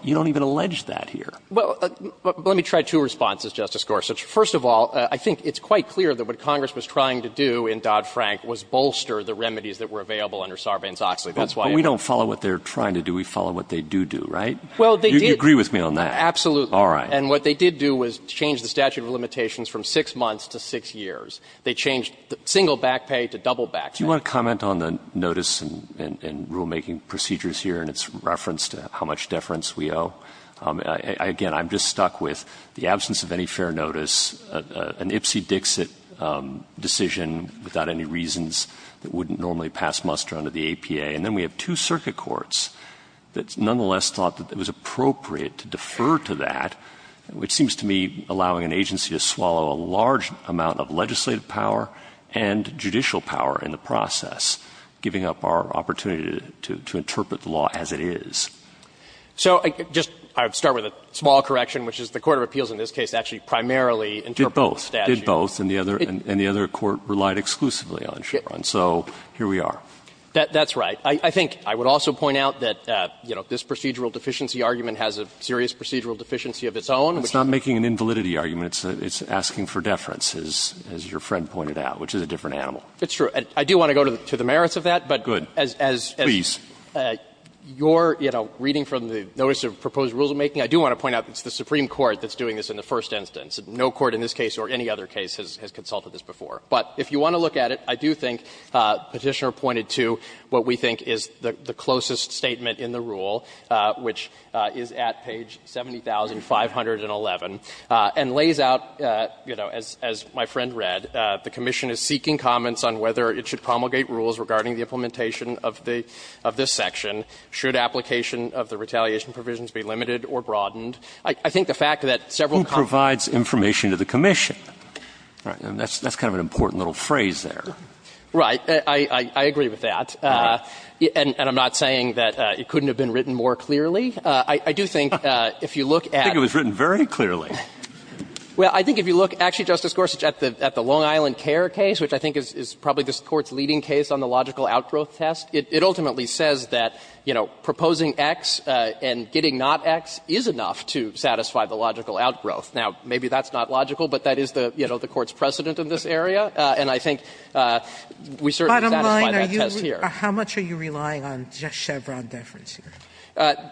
even allege that here. Well, let me try two responses, Justice Gorsuch. First of all, I think it's quite clear that what Congress was trying to do in Dodd-Frank was bolster the remedies that were available under Sarbanes-Oxley. That's why I ask. But we don't follow what they're trying to do. We follow what they do do, right? Well, they did. You agree with me on that? Absolutely. All right. And what they did do was change the statute of limitations from 6 months to 6 years. They changed single back pay to double back pay. Do you want to comment on the notice and rulemaking procedures here and its reference to how much deference we owe? Again, I'm just stuck with the absence of any fair notice, an Ipsy-Dixit decision without any reasons that wouldn't normally pass muster under the APA. And then we have two circuit courts that nonetheless thought that it was appropriate to defer to that, which seems to me allowing an agency to swallow a large amount of legislative power and judicial power in the process, giving up our opportunity to interpret the law as it is. So I just start with a small correction, which is the court of appeals in this case actually primarily interpreted the statute. It did both. It did both. And the other court relied exclusively on Chevron. So here we are. That's right. I think I would also point out that, you know, this procedural deficiency argument has a serious procedural deficiency of its own. It's not making an invalidity argument. It's asking for deference, as your friend pointed out, which is a different animal. It's true. I do want to go to the merits of that, but as you're, you know, reading from the notice of proposed rules of making, I do want to point out that it's the Supreme Court that's doing this in the first instance. No court in this case or any other case has consulted this before. But if you want to look at it, I do think Petitioner pointed to what we think is the I think it points out, you know, as my friend read, the commission is seeking comments on whether it should promulgate rules regarding the implementation of this section. Should application of the retaliation provisions be limited or broadened? I think the fact that several comments Who provides information to the commission? That's kind of an important little phrase there. Right. I agree with that. And I'm not saying that it couldn't have been written more clearly. I do think if you look at I think it was written very clearly. Well, I think if you look, actually, Justice Gorsuch, at the Long Island Care case, which I think is probably this Court's leading case on the logical outgrowth test, it ultimately says that, you know, proposing X and getting not X is enough to satisfy the logical outgrowth. Now, maybe that's not logical, but that is the, you know, the Court's precedent in this area. And I think we certainly satisfy that test here. Sotomayor How much are you relying on just Chevron deference here?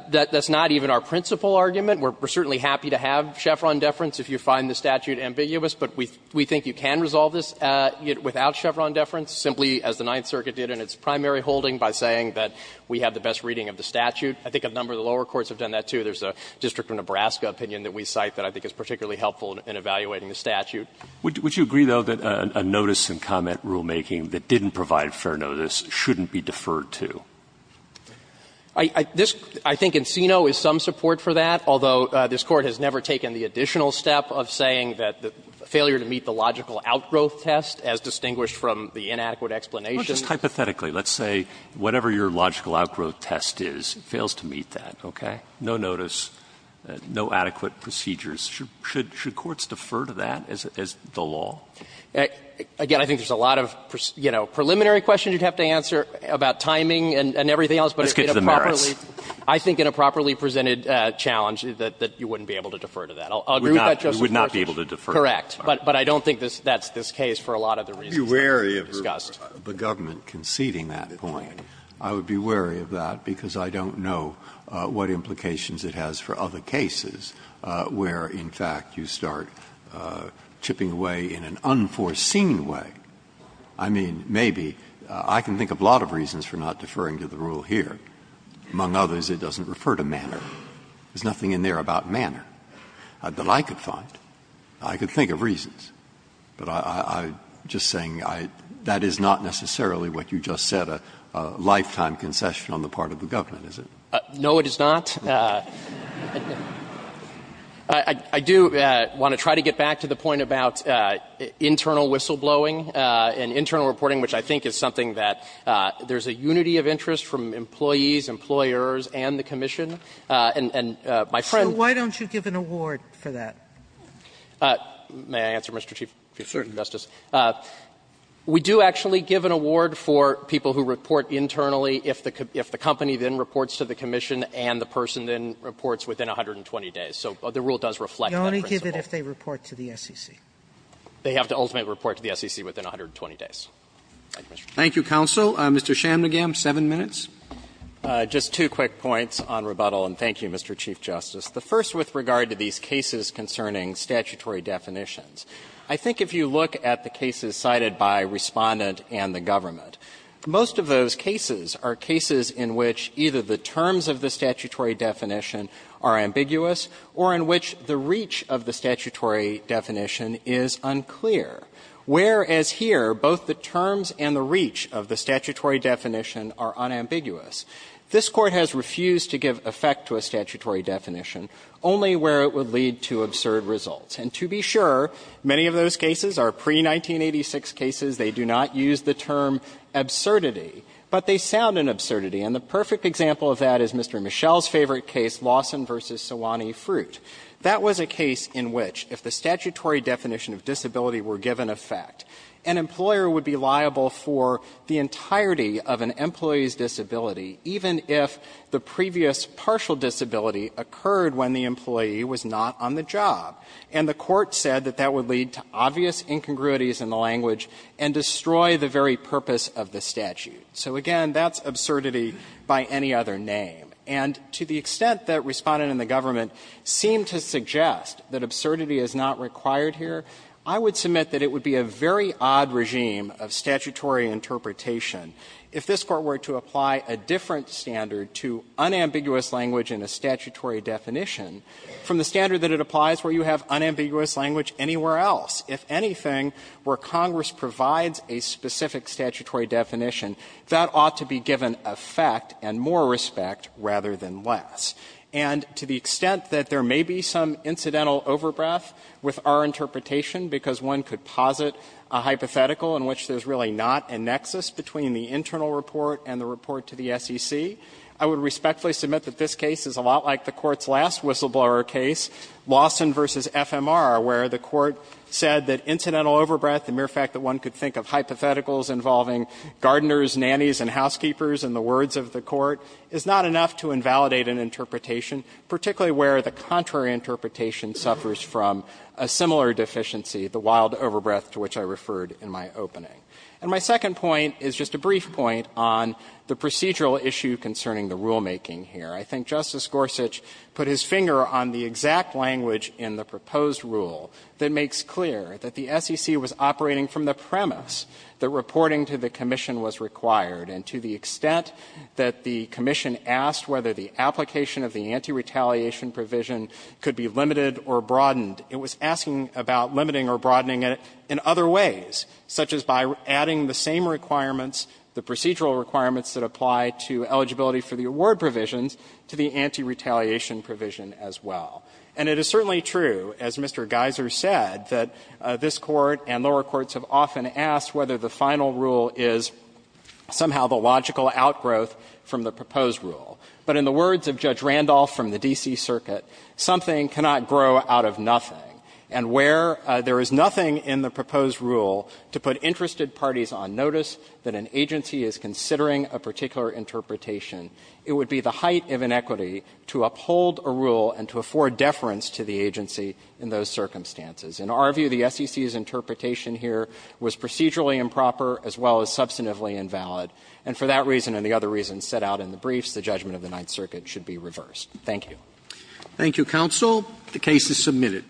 That's not even our principal argument. We're certainly happy to have Chevron deference if you find the statute ambiguous. But we think you can resolve this without Chevron deference, simply as the Ninth Circuit did in its primary holding, by saying that we have the best reading of the statute. I think a number of the lower courts have done that, too. There's a district of Nebraska opinion that we cite that I think is particularly helpful in evaluating the statute. Would you agree, though, that a notice and comment rulemaking that didn't provide fair notice shouldn't be deferred to? I think Encino is some support for that, although this Court has never taken the additional step of saying that the failure to meet the logical outgrowth test, as distinguished from the inadequate explanation. Roberts Well, just hypothetically, let's say whatever your logical outgrowth test is, it fails to meet that, okay? No notice, no adequate procedures. Should courts defer to that as the law? Again, I think there's a lot of, you know, preliminary questions you'd have to answer about timing and everything else, but in a properly presented challenge, that you wouldn't be able to defer to that. I'll agree with that, Justice Breyer. Breyer We would not be able to defer. Roberts Correct. But I don't think that's the case for a lot of the reasons that have been discussed. Breyer I would be wary of the government conceding that point. I would be wary of that because I don't know what implications it has for other cases where, in fact, you start chipping away in an unforeseen way. I mean, maybe. I can think of a lot of reasons for not deferring to the rule here. Among others, it doesn't refer to manner. There's nothing in there about manner that I could find. I could think of reasons. But I'm just saying that is not necessarily what you just said, a lifetime concession on the part of the government, is it? No, it is not. I do want to try to get back to the point about internal whistleblowing. And internal reporting, which I think is something that there's a unity of interest from employees, employers, and the commission. And my friend ---- Sotomayor So why don't you give an award for that? May I answer, Mr. Chief Justice? We do actually give an award for people who report internally if the company then reports to the commission and the person then reports within 120 days. So the rule does reflect that principle. Sotomayor You only give it if they report to the SEC. They have to ultimately report to the SEC within 120 days. Roberts Thank you, counsel. Mr. Chamnagam, seven minutes. Chamnagam Just two quick points on rebuttal, and thank you, Mr. Chief Justice. The first with regard to these cases concerning statutory definitions. I think if you look at the cases cited by Respondent and the government, most of those cases are cases in which either the terms of the statutory definition are ambiguous or in which the reach of the statutory definition is unclear, whereas here both the terms and the reach of the statutory definition are unambiguous. This Court has refused to give effect to a statutory definition only where it would lead to absurd results. And to be sure, many of those cases are pre-1986 cases. They do not use the term absurdity, but they sound an absurdity. And the perfect example of that is Mr. Mischel's favorite case, Lawson v. Sewanee Fruit. That was a case in which if the statutory definition of disability were given effect, an employer would be liable for the entirety of an employee's disability even if the previous partial disability occurred when the employee was not on the job. And the Court said that that would lead to obvious incongruities in the language and destroy the very purpose of the statute. So again, that's absurdity by any other name. And to the extent that Respondent and the government seem to suggest that absurdity is not required here, I would submit that it would be a very odd regime of statutory interpretation if this Court were to apply a different standard to unambiguous language in a statutory definition from the standard that it applies where you have unambiguous language anywhere else, if anything, where Congress provides a specific statutory definition, that ought to be given effect and more respect rather than less. And to the extent that there may be some incidental overbreath with our interpretation because one could posit a hypothetical in which there's really not a nexus between the internal report and the report to the SEC, I would respectfully submit that this case is a lot like the Court's last whistleblower case, Lawson v. FMR, where the Court said that incidental overbreath, the mere fact that one could think of hypotheticals involving gardeners, nannies, and housekeepers in the words of the Court, is not enough to invalidate an interpretation, particularly where the contrary interpretation suffers from a similar deficiency, the wild overbreath to which I referred in my opening. And my second point is just a brief point on the procedural issue concerning the rulemaking here. I think Justice Gorsuch put his finger on the exact language in the proposed rule that makes clear that the SEC was operating from the premise that reporting to the Commission was required. And to the extent that the Commission asked whether the application of the anti-retaliation provision could be limited or broadened, it was asking about limiting or broadening it in other ways, such as by adding the same requirements, the procedural requirements that apply to eligibility for the award provisions, to the anti-retaliation provision as well. And it is certainly true, as Mr. Geiser said, that this Court and lower courts have often asked whether the final rule is somehow the logical outgrowth from the proposed rule. But in the words of Judge Randolph from the D.C. Circuit, something cannot grow out of nothing. And where there is nothing in the proposed rule to put interested parties on notice that an agency is considering a particular interpretation, it would be the height of inequity to uphold a rule and to afford deference to the agency in those circumstances. In our view, the SEC's interpretation here was procedurally improper as well as substantively invalid. And for that reason and the other reasons set out in the briefs, the judgment of the Ninth Circuit should be reversed. Thank you. Roberts. Thank you, counsel. The case is submitted.